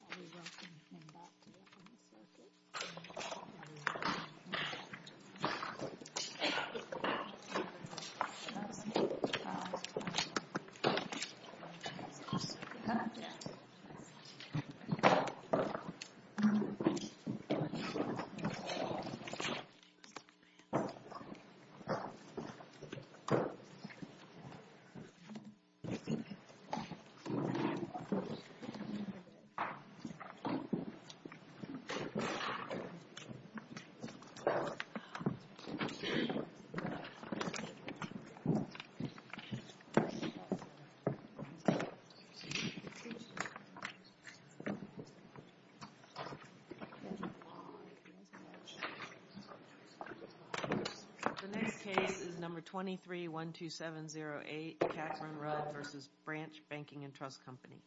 Are we welcome to come back to the room? Thank you. The next case is number 2312708, Catherine Rudd v. Branch Banking & Trust Company. Please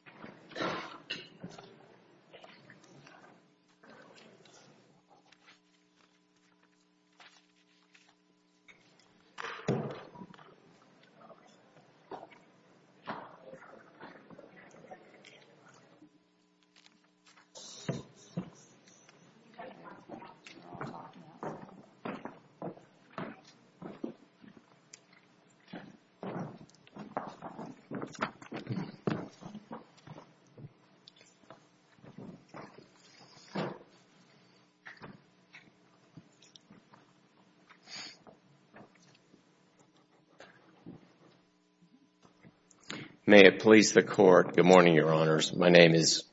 stand by for a moment of silence. May it please the Court. Good morning, Your Honors. My name is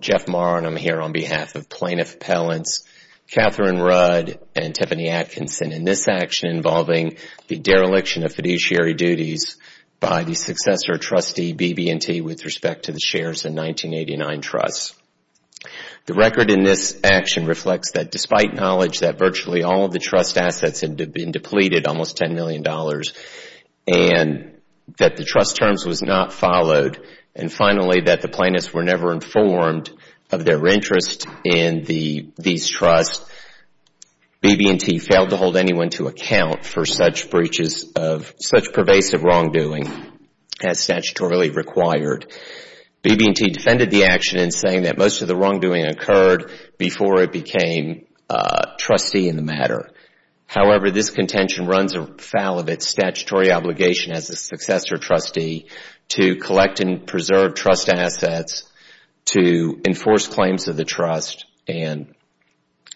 Jeff Marr and I'm here on behalf of Plaintiff Appellants Catherine Rudd and Tiffany Atkinson in this action involving the dereliction of fiduciary duties by the successor trustee, BB&T, with respect to the shares in 1989 trusts. The record in this action reflects that despite knowledge that virtually all of the trust assets had been depleted, almost $10 million, and that the trust terms was not followed, and finally that the plaintiffs were never informed of their interest in these trusts, BB&T failed to hold anyone to account for such pervasive wrongdoing as statutorily required. BB&T defended the action in saying that most of the wrongdoing occurred before it became trustee in the matter. However, this contention runs afoul of its statutory obligation as a successor trustee to collect and preserve trust assets, to enforce claims of the trust, and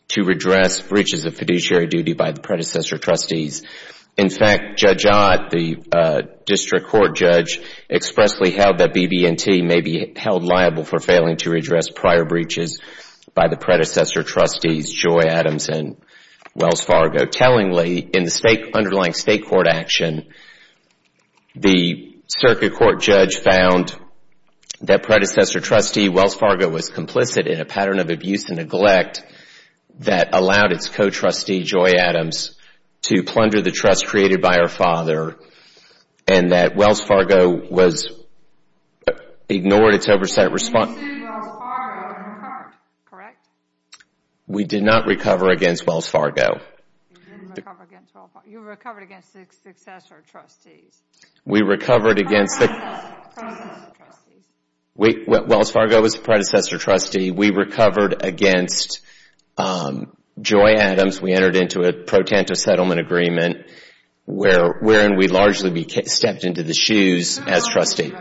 to redress breaches of fiduciary duty by the predecessor trustees. In fact, Judge Ott, the district court judge, expressly held that BB&T may be held liable for failing to redress prior breaches by the predecessor trustees, Joy Adams and Wells Fargo. Tellingly, in the underlying state court action, the circuit court judge found that predecessor trustee Wells Fargo was complicit in a pattern of abuse and neglect that allowed its co-trustee, Joy Adams, to plunder the trust created by her father, and that Wells Fargo ignored its oversight response. We did not recover against Wells Fargo. You recovered against the successor trustees. We recovered against the predecessor trustees. Wells Fargo was the predecessor trustee. We recovered against Joy Adams. We entered into a pro-tentative settlement agreement wherein we largely stepped into the shoes as trustee.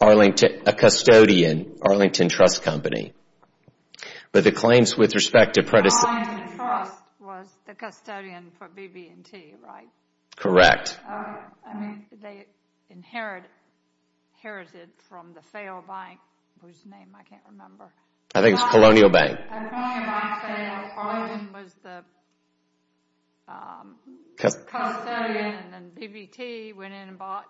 A custodian, Arlington Trust Company. Arlington Trust was the custodian for BB&T, right? Okay. I mean, they inherited from the failed bank whose name I can't remember. I think it's Colonial Bank. Colonial Bank, so Arlington was the custodian, and then BB&T went in and bought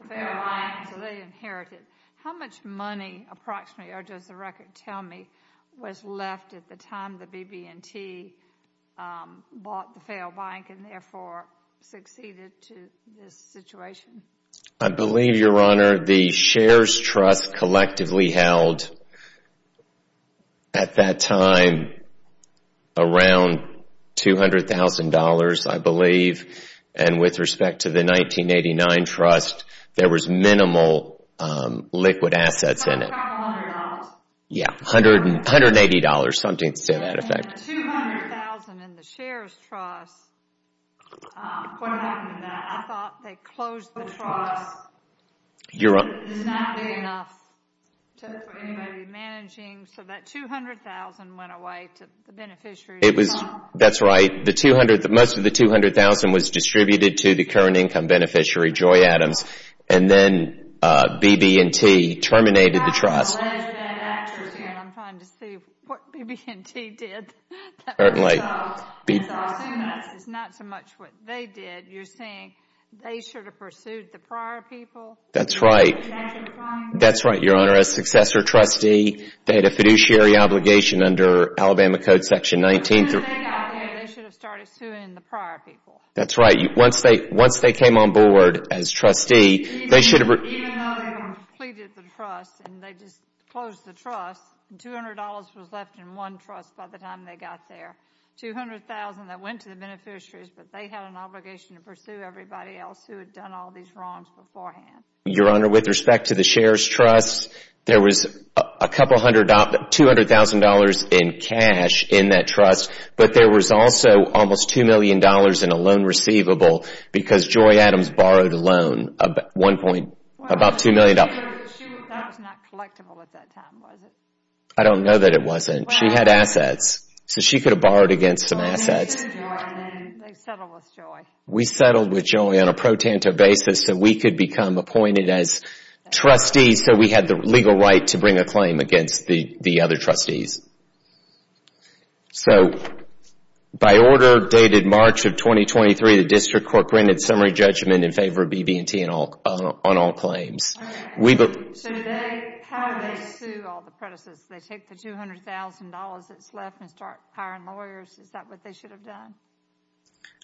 the failed bank, so they inherited. How much money approximately, or does the record tell me, was left at the time the BB&T bought the failed bank and therefore succeeded to this situation? I believe, Your Honor, the shares trust collectively held at that time around $200,000, I believe, and with respect to the 1989 trust, there was minimal liquid assets in it. I thought it was around $100. Yeah, $180, something to that effect. $200,000 in the shares trust, what happened to that? I thought they closed the trust. You're right. It's not big enough for anybody managing, so that $200,000 went away to the beneficiaries. That's right. Most of the $200,000 was distributed to the current income beneficiary, Joy Adams, and then BB&T terminated the trust. I'm trying to see what BB&T did. I assume that's not so much what they did. You're saying they should have pursued the prior people? That's right. That's right, Your Honor. As successor trustee, they had a fiduciary obligation under Alabama Code Section 19. Once they got there, they should have started suing the prior people. That's right. Once they came on board as trustee, they should have... Even though they completed the trust and they just closed the trust, $200,000 was left in one trust by the time they got there. $200,000 that went to the beneficiaries, but they had an obligation to pursue everybody else who had done all these wrongs beforehand. Your Honor, with respect to the shares trust, there was $200,000 in cash in that trust, but there was also almost $2 million in a loan receivable because Joy Adams borrowed a loan, about $2 million. That was not collectible at that time, was it? I don't know that it wasn't. She had assets, so she could have borrowed against some assets. They settled with Joy. We settled with Joy on a pro-tanto basis so we could become appointed as trustees, so we had the legal right to bring a claim against the other trustees. So, by order dated March of 2023, the District Court granted summary judgment in favor of BB&T on all claims. How did they sue all the predecessors? They take the $200,000 that's left and start hiring lawyers? Is that what they should have done?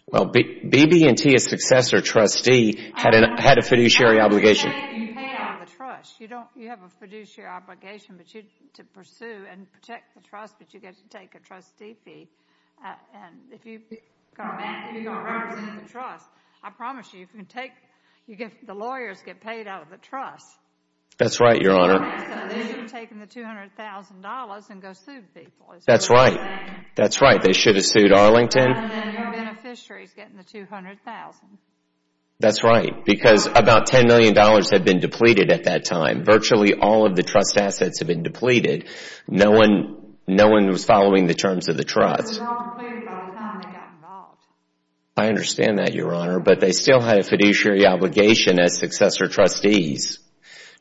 Well, BB&T, a successor trustee, had a fiduciary obligation. You pay out of the trust. You have a fiduciary obligation to pursue and protect the trust, but you get to take a trustee fee. If you don't represent the trust, I promise you, the lawyers get paid out of the trust. That's right, Your Honor. So, they should have taken the $200,000 and go sued people. That's right. That's right. They should have sued Arlington. And then your beneficiary is getting the $200,000. That's right, because about $10 million had been depleted at that time. Virtually all of the trust assets had been depleted. No one was following the terms of the trust. It was all clear by the time they got involved. I understand that, Your Honor, but they still had a fiduciary obligation as successor trustees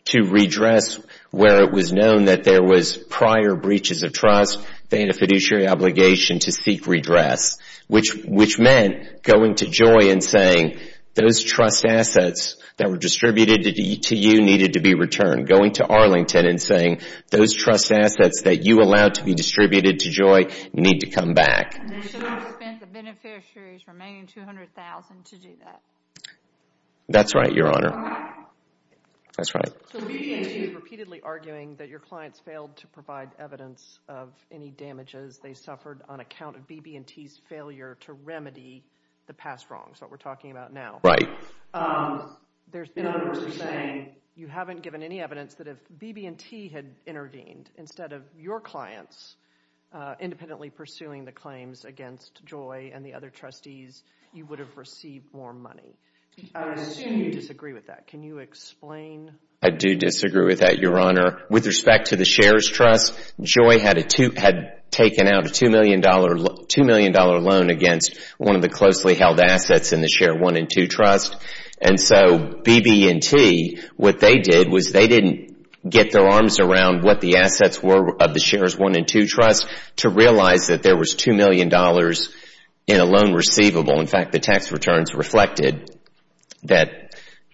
to redress where it was known that there was prior breaches of trust. They had a fiduciary obligation to seek redress, which meant going to Joy and saying, those trust assets that were distributed to you needed to be returned. Going to Arlington and saying, those trust assets that you allowed to be distributed to Joy need to come back. They should have spent the beneficiary's remaining $200,000 to do that. That's right, Your Honor. That's right. So BB&T is repeatedly arguing that your clients failed to provide evidence of any damages they suffered on account of BB&T's failure to remedy the past wrongs, what we're talking about now. Right. There's been controversy saying you haven't given any evidence that if BB&T had intervened instead of your clients independently pursuing the claims against Joy and the other trustees, you would have received more money. I assume you disagree with that. Can you explain? I do disagree with that, Your Honor. With respect to the Shares Trust, Joy had taken out a $2 million loan against one of the closely held assets in the Shares I and II Trust. And so BB&T, what they did was they didn't get their arms around what the assets were of the Shares I and II Trust to realize that there was $2 million in a loan receivable. In fact, the tax returns reflected that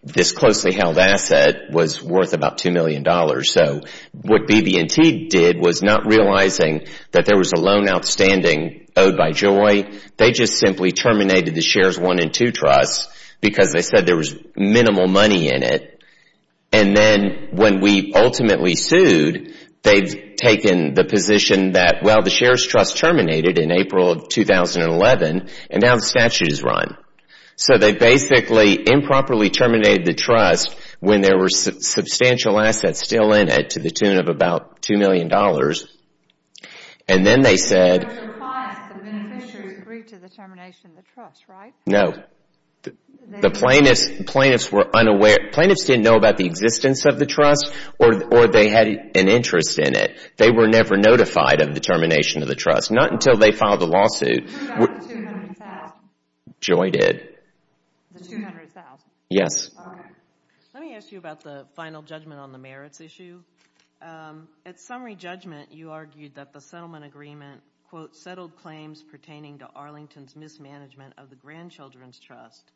this closely held asset was worth about $2 million. So what BB&T did was not realizing that there was a loan outstanding owed by Joy. They just simply terminated the Shares I and II Trusts because they said there was minimal money in it. And then when we ultimately sued, they've taken the position that, well, the Shares Trust terminated in April of 2011, and now the statute is run. So they basically improperly terminated the trust when there were substantial assets still in it to the tune of about $2 million. And then they said... It was a surprise that the beneficiaries agreed to the termination of the trust, right? No. The plaintiffs were unaware. Plaintiffs didn't know about the existence of the trust or they had an interest in it. They were never notified of the termination of the trust, not until they filed the lawsuit. Who got the $200,000? Joy did. The $200,000? Yes. Okay. Let me ask you about the final judgment on the merits issue. At summary judgment, you argued that the settlement agreement, quote, settled claims pertaining to Arlington's mismanagement of the Grandchildren's Trust,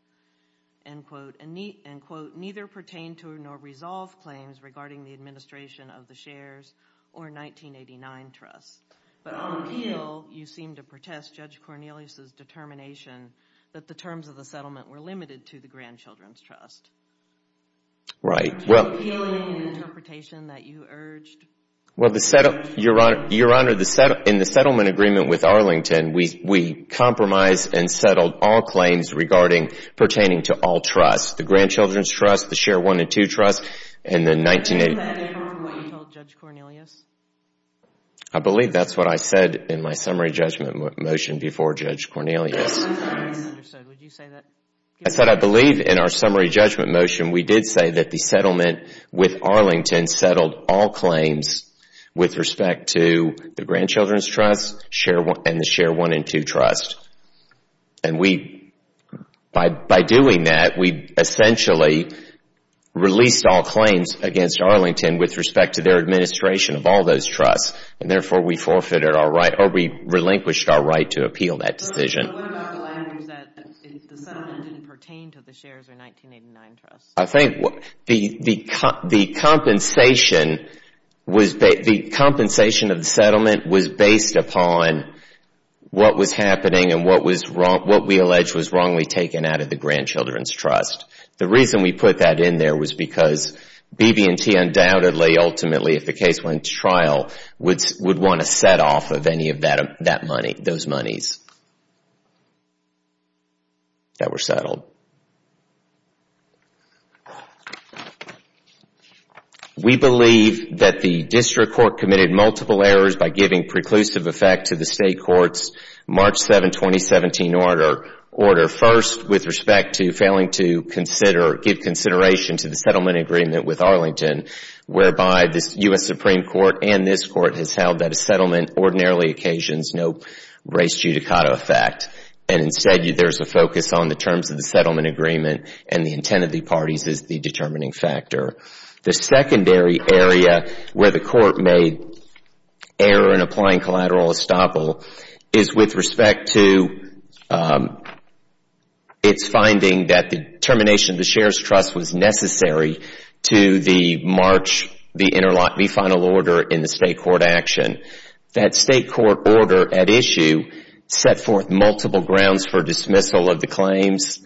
end quote, and, quote, neither pertain to nor resolve claims regarding the administration of the Shares or 1989 Trusts. But on appeal, you seemed to protest Judge Cornelius's determination that the terms of the settlement were limited to the Grandchildren's Trust. Right. What was the appealing interpretation that you urged? Your Honor, in the settlement agreement with Arlington, we compromised and settled all claims pertaining to all trusts, the Grandchildren's Trust, the Share I and II Trust, and the 1989 Trust. Is that in line with what you told Judge Cornelius? I believe that's what I said in my summary judgment motion before Judge Cornelius. Would you say that? That's what I believe in our summary judgment motion. We did say that the settlement with Arlington settled all claims with respect to the Grandchildren's Trust and the Share I and II Trust. And we, by doing that, we essentially released all claims against Arlington with respect to their administration of all those trusts. And, therefore, we forfeited our right or we relinquished our right to appeal that decision. But what about the language that the settlement didn't pertain to the Shares or 1989 Trusts? I think the compensation of the settlement was based upon what was happening and what we alleged was wrongly taken out of the Grandchildren's Trust. The reason we put that in there was because BB&T undoubtedly, ultimately, if the case went to trial, would want to set off of any of those monies that were settled. We believe that the District Court committed multiple errors by giving preclusive effect to the State Court's March 7, 2017 order. First, with respect to failing to give consideration to the settlement agreement with Arlington, whereby the U.S. Supreme Court and this Court has held that a settlement ordinarily occasions no race judicata effect. And, instead, there's a focus on the terms of the settlement agreement and the intent of the parties as the determining factor. The secondary area where the Court made error in applying collateral estoppel is with respect to its finding that the termination of the Shares Trust was necessary to the March, the interlock, refinal order in the State Court action. That State Court order at issue set forth multiple grounds for dismissal of the claims.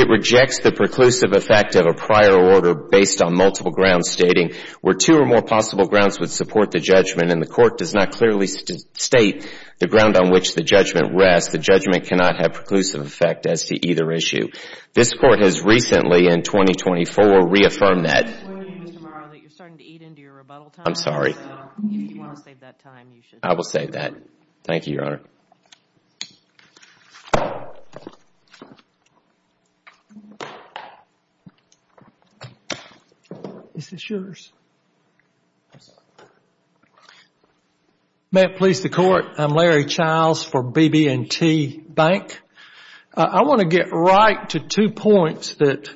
It rejects the preclusive effect of a prior order based on multiple grounds stating where two or more possible grounds would support the judgment. And the Court does not clearly state the ground on which the judgment rests. The judgment cannot have preclusive effect as to either issue. This Court has recently, in 2024, reaffirmed that. I'm sorry. I will save that. Thank you, Your Honor. Is this yours? May it please the Court, I'm Larry Childs for BB&T Bank. I want to get right to two points that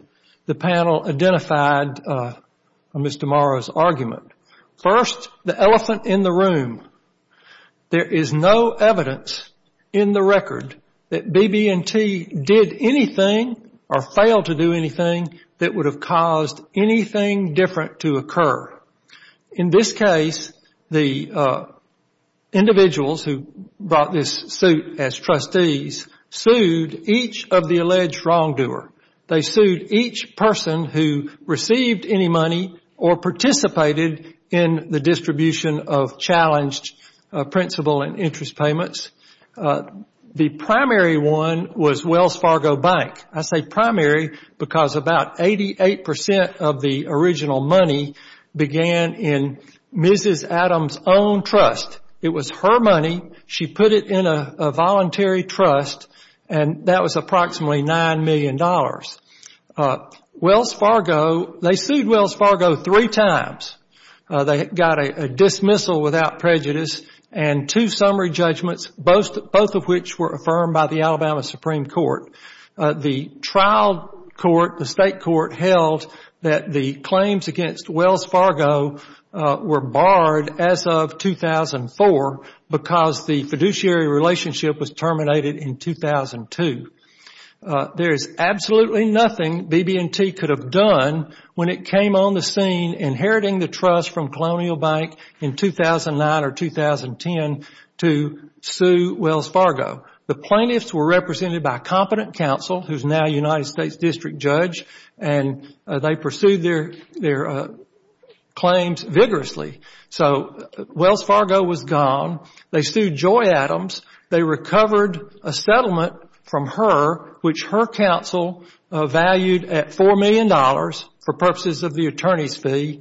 the panel identified in Mr. Morrow's argument. First, the elephant in the room. There is no evidence in the record that BB&T did anything or failed to do anything that would have caused anything different to occur. In this case, the individuals who brought this suit as trustees sued each of the alleged wrongdoer. They sued each person who received any money or participated in the distribution of challenged principal and interest payments. The primary one was Wells Fargo Bank. I say primary because about 88% of the original money began in Mrs. Adams' own trust. It was her money. She put it in a voluntary trust, and that was approximately $9 million. Wells Fargo, they sued Wells Fargo three times. They got a dismissal without prejudice and two summary judgments, both of which were affirmed by the Alabama Supreme Court. The trial court, the state court, held that the claims against Wells Fargo were barred as of 2004 because the fiduciary relationship was terminated in 2002. There is absolutely nothing BB&T could have done when it came on the scene inheriting the trust from Colonial Bank in 2009 or 2010 to sue Wells Fargo. The plaintiffs were represented by a competent counsel who is now a United States district judge, and they pursued their claims vigorously. So Wells Fargo was gone. They sued Joy Adams. They recovered a settlement from her which her counsel valued at $4 million for purposes of the attorney's fee,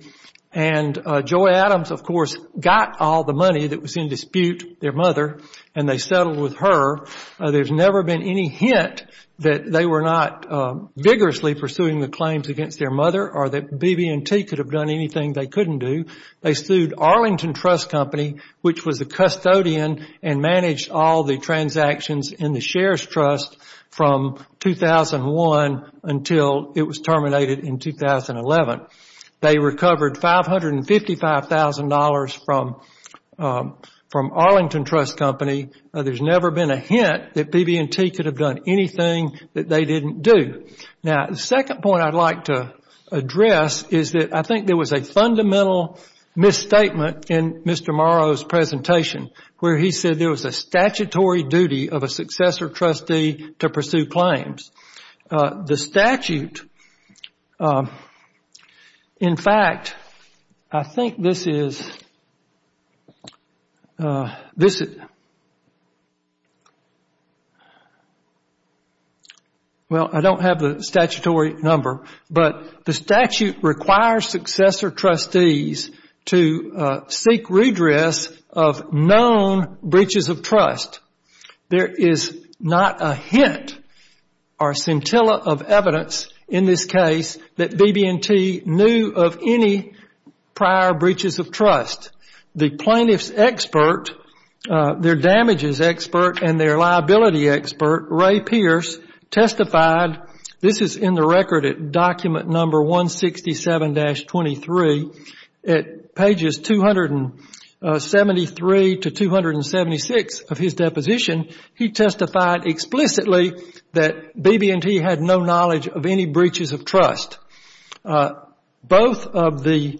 and Joy Adams, of course, got all the money that was in dispute, their mother, and they settled with her. There's never been any hint that they were not vigorously pursuing the claims against their mother or that BB&T could have done anything they couldn't do. They sued Arlington Trust Company, which was a custodian and managed all the transactions in the shares trust from 2001 until it was terminated in 2011. They recovered $555,000 from Arlington Trust Company. There's never been a hint that BB&T could have done anything that they didn't do. Now, the second point I'd like to address is that I think there was a fundamental misstatement in Mr. Morrow's presentation where he said there was a statutory duty of a successor trustee to pursue claims. The statute, in fact, I think this is, well, I don't have the statutory number, but the statute requires successor trustees to seek redress of known breaches of trust. There is not a hint or scintilla of evidence in this case that BB&T knew of any prior breaches of trust. The plaintiff's expert, their damages expert, and their liability expert, Ray Pierce, testified, this is in the record at document number 167-23, at pages 273 to 276 of his deposition, he testified explicitly that BB&T had no knowledge of any breaches of trust. Both of the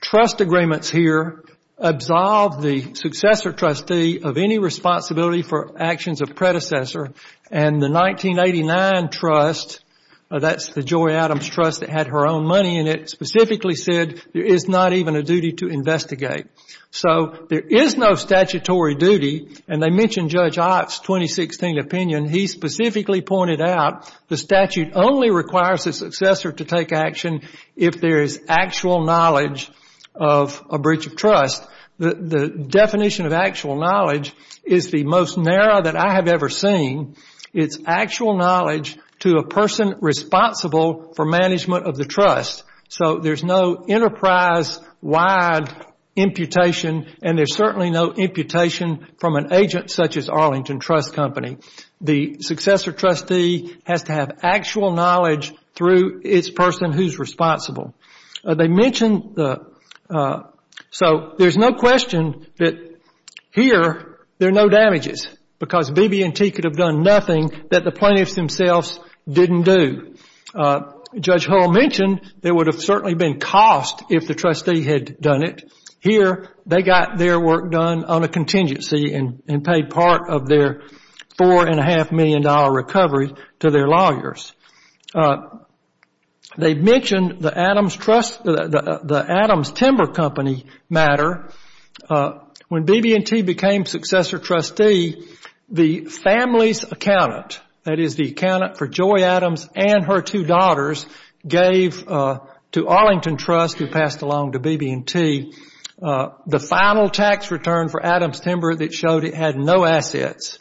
trust agreements here absolved the successor trustee of any responsibility for actions of predecessor, and the 1989 trust, that's the Joy Adams trust that had her own money in it, specifically said there is not even a duty to investigate. So there is no statutory duty, and they mention Judge Ott's 2016 opinion. He specifically pointed out the statute only requires a successor to take action if there is actual knowledge of a breach of trust. The definition of actual knowledge is the most narrow that I have ever seen. It's actual knowledge to a person responsible for management of the trust. So there is no enterprise-wide imputation, and there is certainly no imputation from an agent such as Arlington Trust Company. The successor trustee has to have actual knowledge through its person who is responsible. So there is no question that here there are no damages, because BB&T could have done nothing that the plaintiffs themselves didn't do. Judge Hull mentioned there would have certainly been cost if the trustee had done it. Here they got their work done on a contingency and paid part of their $4.5 million recovery to their lawyers. They mentioned the Adams Timber Company matter. When BB&T became successor trustee, the family's accountant, that is the accountant for Joy Adams and her two daughters, gave to Arlington Trust, who passed along to BB&T, the final tax return for Adams Timber that showed it had no assets,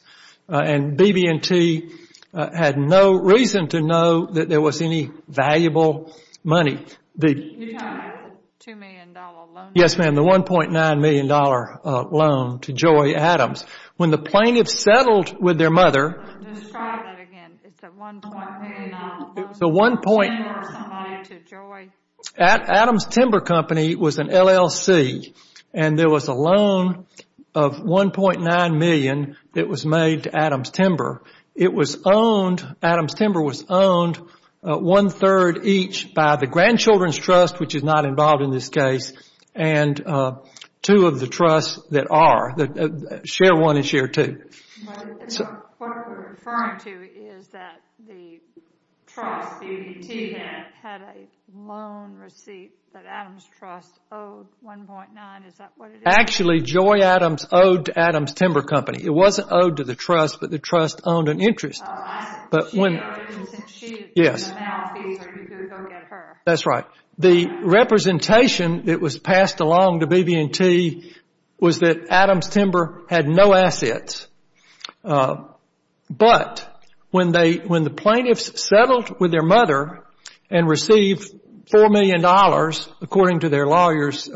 and BB&T had no reason to know that there was any valuable money. You're talking about the $2 million loan? Yes, ma'am, the $1.9 million loan to Joy Adams. When the plaintiffs settled with their mother... Describe that again. It's a $1.9 million loan. Adams Timber Company was an LLC, and there was a loan of $1.9 million that was made to Adams Timber. Adams Timber was owned one-third each by the grandchildren's trust, which is not involved in this case, and two of the trusts that are, share one and share two. What we're referring to is that the trust, BB&T, had a loan receipt that Adams Trust owed $1.9, is that what it is? Actually, Joy Adams owed to Adams Timber Company. It wasn't owed to the trust, but the trust owned an interest. Oh, I see. Yes. That's right. The representation that was passed along to BB&T was that Adams Timber had no assets. But when the plaintiffs settled with their mother and received $4 million, according to their lawyer's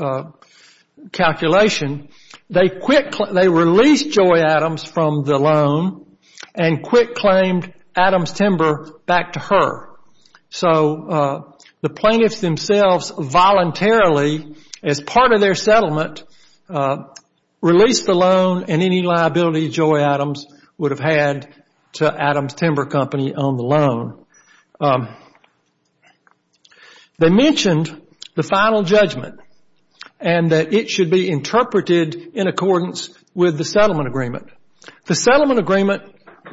calculation, they released Joy Adams from the loan and quick claimed Adams Timber back to her. So the plaintiffs themselves voluntarily, as part of their settlement, released the loan and any liability Joy Adams would have had to Adams Timber Company on the loan. They mentioned the final judgment and that it should be interpreted in accordance with the settlement agreement. The settlement agreement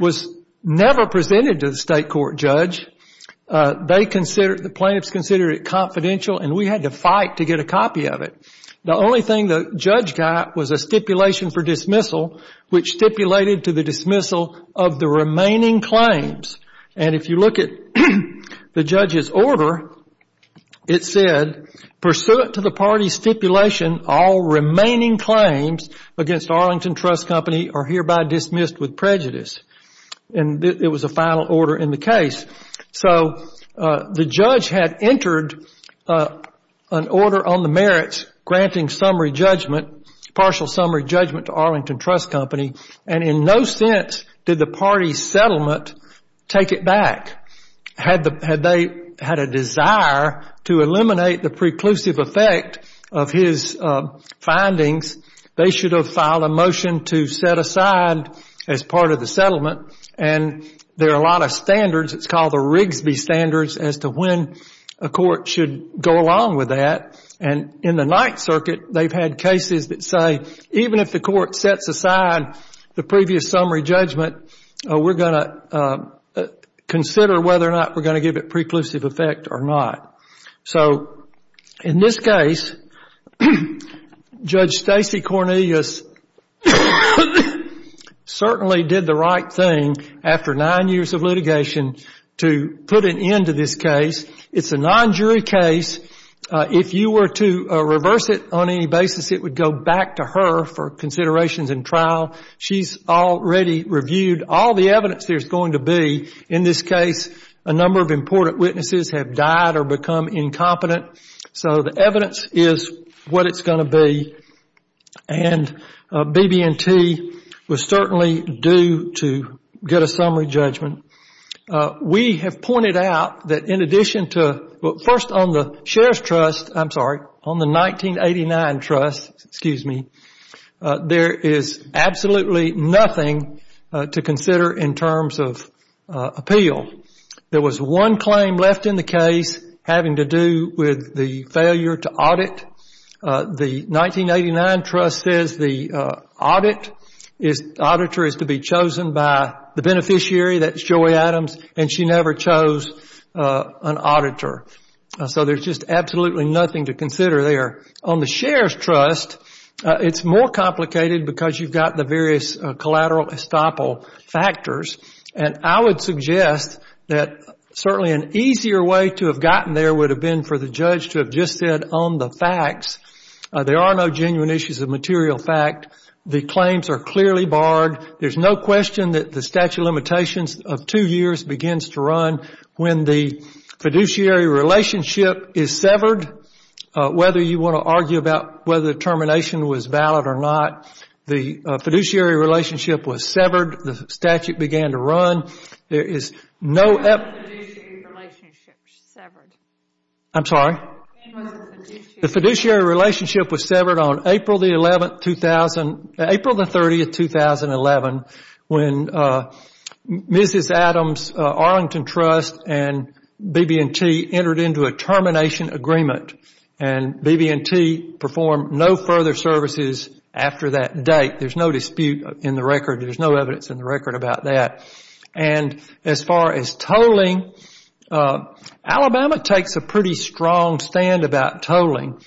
was never presented to the state court judge. The plaintiffs considered it confidential and we had to fight to get a copy of it. The only thing the judge got was a stipulation for dismissal which stipulated to the dismissal of the remaining claims. And if you look at the judge's order, it said, Pursuant to the party's stipulation, all remaining claims against Arlington Trust Company are hereby dismissed with prejudice. And it was a final order in the case. So the judge had entered an order on the merits granting summary judgment, partial summary judgment to Arlington Trust Company, and in no sense did the party's settlement take it back. Had they had a desire to eliminate the preclusive effect of his findings, they should have filed a motion to set aside as part of the settlement. And there are a lot of standards. It's called the Rigsby Standards as to when a court should go along with that. And in the Ninth Circuit, they've had cases that say, even if the court sets aside the previous summary judgment, we're going to consider whether or not we're going to give it preclusive effect or not. So in this case, Judge Stacy Cornelius certainly did the right thing after nine years of litigation to put an end to this case. It's a non-jury case. If you were to reverse it on any basis, it would go back to her for considerations in trial. She's already reviewed all the evidence there's going to be. In this case, a number of important witnesses have died or become incompetent. So the evidence is what it's going to be. And BB&T was certainly due to get a summary judgment. We have pointed out that in addition to first on the Sheriff's Trust, I'm sorry, on the 1989 Trust, excuse me, there is absolutely nothing to consider in terms of appeal. There was one claim left in the case having to do with the failure to audit. The 1989 Trust says the auditor is to be chosen by the beneficiary, that's Joey Adams, and she never chose an auditor. So there's just absolutely nothing to consider there. On the Sheriff's Trust, it's more complicated because you've got the various collateral estoppel factors. And I would suggest that certainly an easier way to have gotten there would have been for the judge to have just said on the facts there are no genuine issues of material fact. The claims are clearly barred. There's no question that the statute of limitations of two years begins to run when the fiduciary relationship is severed. Whether you want to argue about whether the termination was valid or not, the fiduciary relationship was severed. The statute began to run. There is no evidence. When was the fiduciary relationship severed? I'm sorry? When was the fiduciary relationship severed? The fiduciary relationship was severed on April the 30th, 2011, when Mrs. Adams' Arlington Trust and BB&T entered into a termination agreement. And BB&T performed no further services after that date. There's no dispute in the record. There's no evidence in the record about that. And as far as tolling, Alabama takes a pretty strong stand about tolling.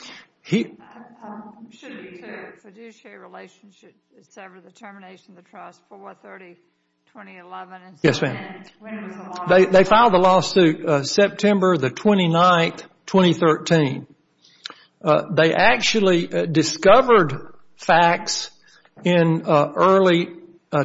The fiduciary relationship severed at the termination of the trust, 4-30-2011. Yes, ma'am. When was the lawsuit? They filed the lawsuit September the 29th, 2013. They actually discovered facts in early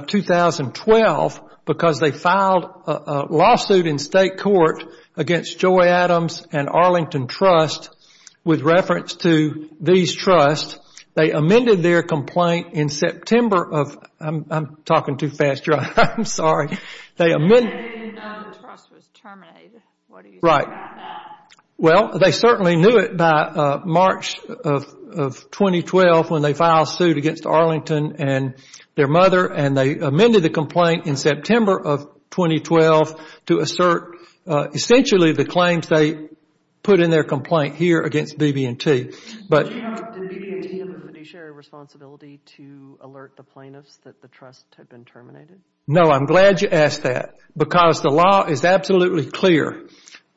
2012 because they filed a lawsuit in state court against Joy Adams and Arlington Trust with reference to these trusts. They amended their complaint in September of – I'm talking too fast, Joy. I'm sorry. They amended – They didn't know the trust was terminated. What do you say about that? Right. Well, they certainly knew it by March of 2012 when they filed a suit against Arlington and their mother. And they amended the complaint in September of 2012 to assert essentially the claims they put in their complaint here against BB&T. Did BB&T have a fiduciary responsibility to alert the plaintiffs that the trust had been terminated? No, I'm glad you asked that because the law is absolutely clear.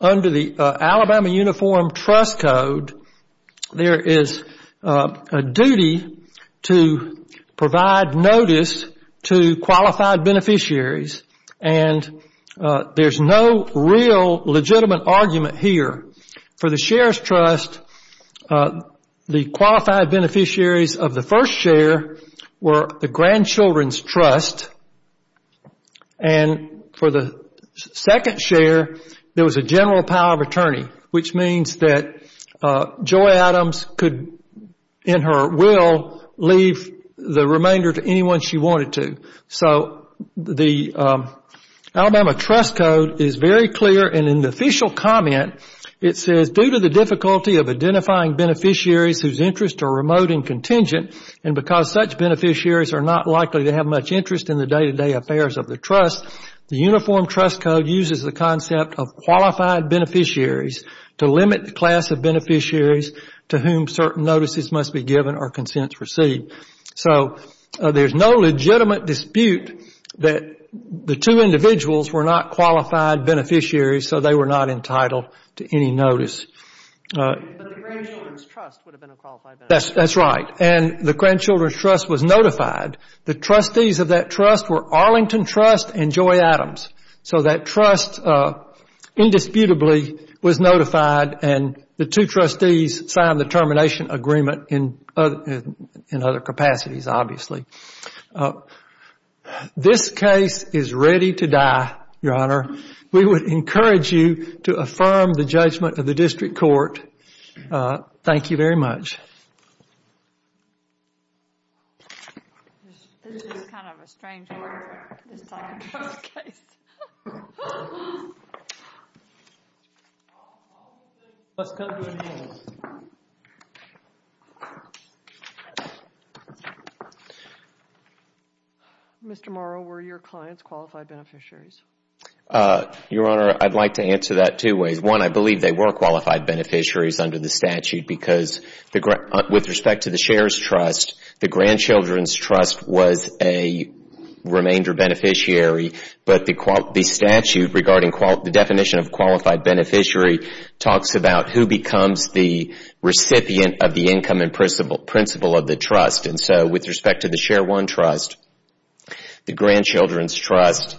Under the Alabama Uniform Trust Code, there is a duty to provide notice to qualified beneficiaries and there's no real legitimate argument here. For the Shares Trust, the qualified beneficiaries of the first share were the grandchildren's trust. And for the second share, there was a general power of attorney, which means that Joy Adams could, in her will, leave the remainder to anyone she wanted to. So the Alabama Trust Code is very clear. And in the official comment, it says, due to the difficulty of identifying beneficiaries whose interests are remote and contingent and because such beneficiaries are not likely to have much interest in the day-to-day affairs of the trust, the Uniform Trust Code uses the concept of qualified beneficiaries to limit the class of beneficiaries to whom certain notices must be given or consents received. So there's no legitimate dispute that the two individuals were not qualified beneficiaries, so they were not entitled to any notice. But the grandchildren's trust would have been a qualified beneficiary. That's right. And the grandchildren's trust was notified. The trustees of that trust were Arlington Trust and Joy Adams. So that trust, indisputably, was notified and the two trustees signed the termination agreement in other capacities, obviously. This case is ready to die, Your Honor. We would encourage you to affirm the judgment of the district court. Thank you very much. This is kind of a strange way to sign a case. Mr. Morrow, were your clients qualified beneficiaries? Your Honor, I'd like to answer that two ways. One, I believe they were qualified beneficiaries under the statute because with respect to the shares trust, the grandchildren's trust was a remainder beneficiary, but the statute regarding the definition of qualified beneficiary talks about who becomes the recipient of the income and principle of the trust. And so with respect to the Share One Trust, the grandchildren's trust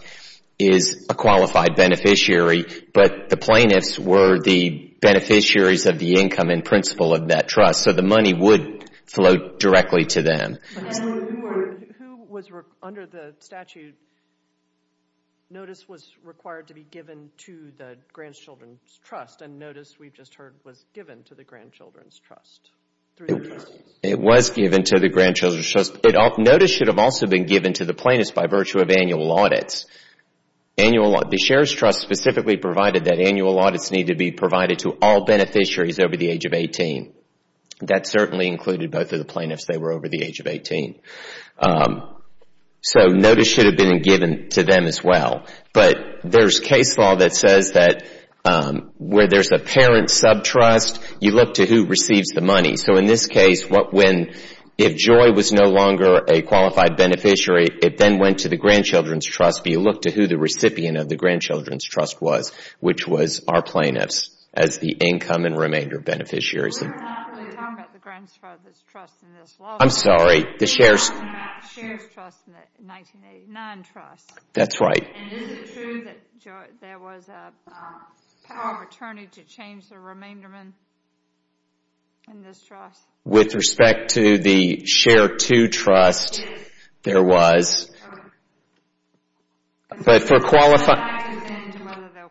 is a qualified beneficiary, but the plaintiffs were the beneficiaries of the income and principle of that trust. So the money would flow directly to them. Who was, under the statute, notice was required to be given to the grandchildren's trust and notice, we've just heard, was given to the grandchildren's trust? It was given to the grandchildren's trust. Notice should have also been given to the plaintiffs by virtue of annual audits. The shares trust specifically provided that annual audits need to be provided to all beneficiaries over the age of 18. That certainly included both of the plaintiffs. They were over the age of 18. So notice should have been given to them as well. But there's case law that says that where there's a parent's subtrust, you look to who receives the money. So in this case, if Joy was no longer a qualified beneficiary, it then went to the grandchildren's trust, but you look to who the recipient of the grandchildren's trust was, which was our plaintiffs as the income and remainder beneficiaries. We're not really talking about the grandfather's trust in this law. I'm sorry. The shares trust in the 1989 trust. That's right. And is it true that Joy, there was a power of attorney to change the remainder in this trust? With respect to the Share Two Trust, there was, but for qualified. I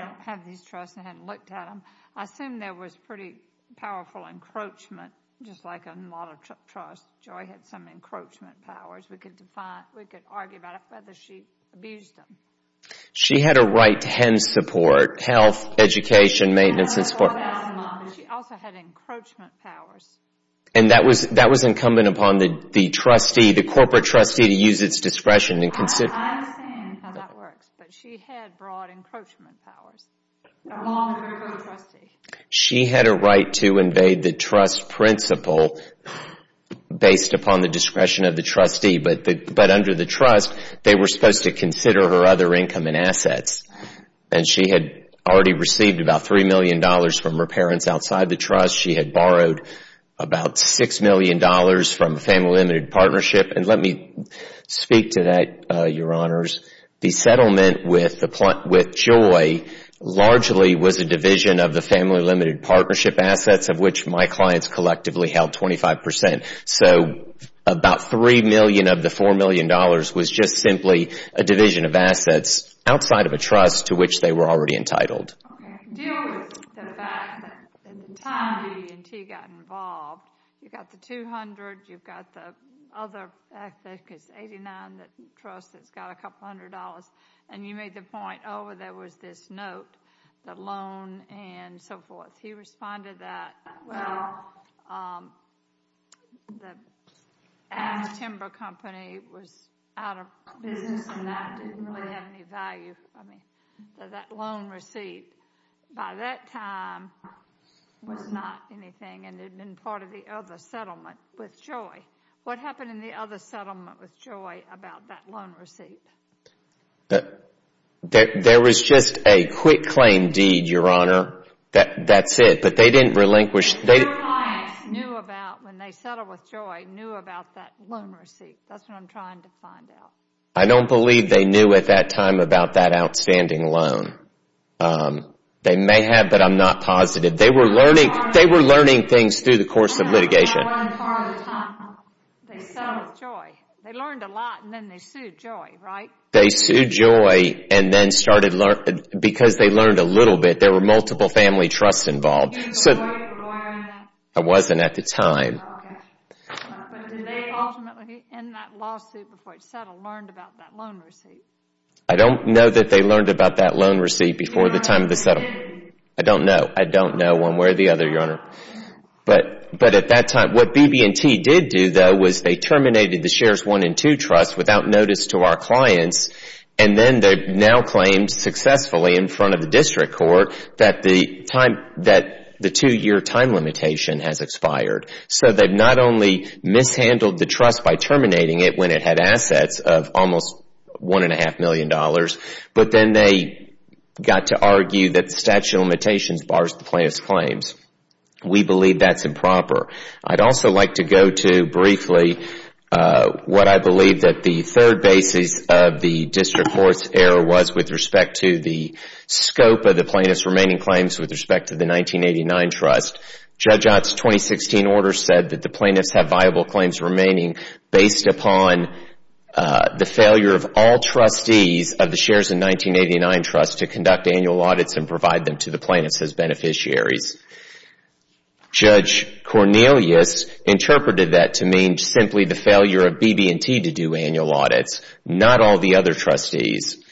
don't have these trusts. I haven't looked at them. I assume there was pretty powerful encroachment, just like a model trust. Joy had some encroachment powers. We could argue about it, whether she abused them. She had a right to HEN support, health, education, maintenance and support. She also had encroachment powers. And that was incumbent upon the trustee, the corporate trustee to use its discretion and consider. I understand how that works, but she had broad encroachment powers. Along with her co-trustee. She had a right to invade the trust principle based upon the discretion of the trustee, but under the trust, they were supposed to consider her other income and assets. And she had already received about $3 million from her parents outside the trust. She had borrowed about $6 million from a family limited partnership. And let me speak to that, Your Honors. The settlement with Joy largely was a division of the family limited partnership assets, of which my clients collectively held 25%. So about $3 million of the $4 million was just simply a division of assets outside of a trust to which they were already entitled. Okay, deal with the fact that at the time B&T got involved, you've got the $200, you've got the other $89, the trust that's got a couple hundred dollars, and you made the point, oh, there was this note, the loan and so forth. He responded that, well, the Ash Timber Company was out of business and that didn't really have any value. So that loan receipt, by that time, was not anything and had been part of the other settlement with Joy. What happened in the other settlement with Joy about that loan receipt? There was just a quick claim deed, Your Honor. That's it. But they didn't relinquish. Your clients knew about, when they settled with Joy, knew about that loan receipt. That's what I'm trying to find out. I don't believe they knew at that time about that outstanding loan. They may have, but I'm not positive. They were learning things through the course of litigation. They settled with Joy. They learned a lot and then they sued Joy, right? They sued Joy because they learned a little bit. There were multiple family trusts involved. It wasn't at the time. But did they ultimately, in that lawsuit before it settled, learned about that loan receipt? I don't know that they learned about that loan receipt before the time of the settlement. I don't know. I don't know one way or the other, Your Honor. But at that time, what BB&T did do, though, was they terminated the Shares I and II Trust without notice to our clients and then they've now claimed successfully in front of the District Court that the two-year time limitation has expired. So they've not only mishandled the trust by terminating it when it had assets of almost $1.5 million, but then they got to argue that the statute of limitations bars the plaintiff's claims. We believe that's improper. I'd also like to go to, briefly, what I believe that the third basis of the District Court's error was with respect to the scope of the plaintiff's remaining claims with respect to the 1989 trust. Judge Ott's 2016 order said that the plaintiffs have viable claims remaining based upon the failure of all trustees of the Shares in 1989 Trust to conduct annual audits and provide them to the plaintiffs as beneficiaries. Judge Cornelius interpreted that to mean simply the failure of BB&T to do annual audits, not all the other trustees.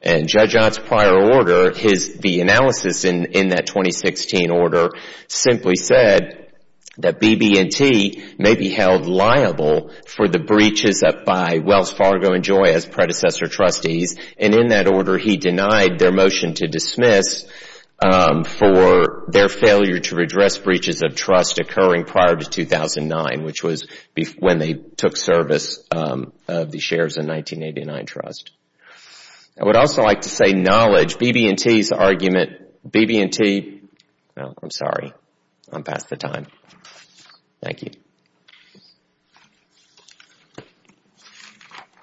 And Judge Ott's prior order, the analysis in that 2016 order, simply said that BB&T may be held liable for the breaches by Wells Fargo and Joy as predecessor trustees, and in that order he denied their motion to dismiss for their failure to address breaches of trust occurring prior to 2009, which was when they took service of the Shares in 1989 Trust. I would also like to say knowledge. BB&T's argument, BB&T, I'm sorry. I'm past the time. Thank you.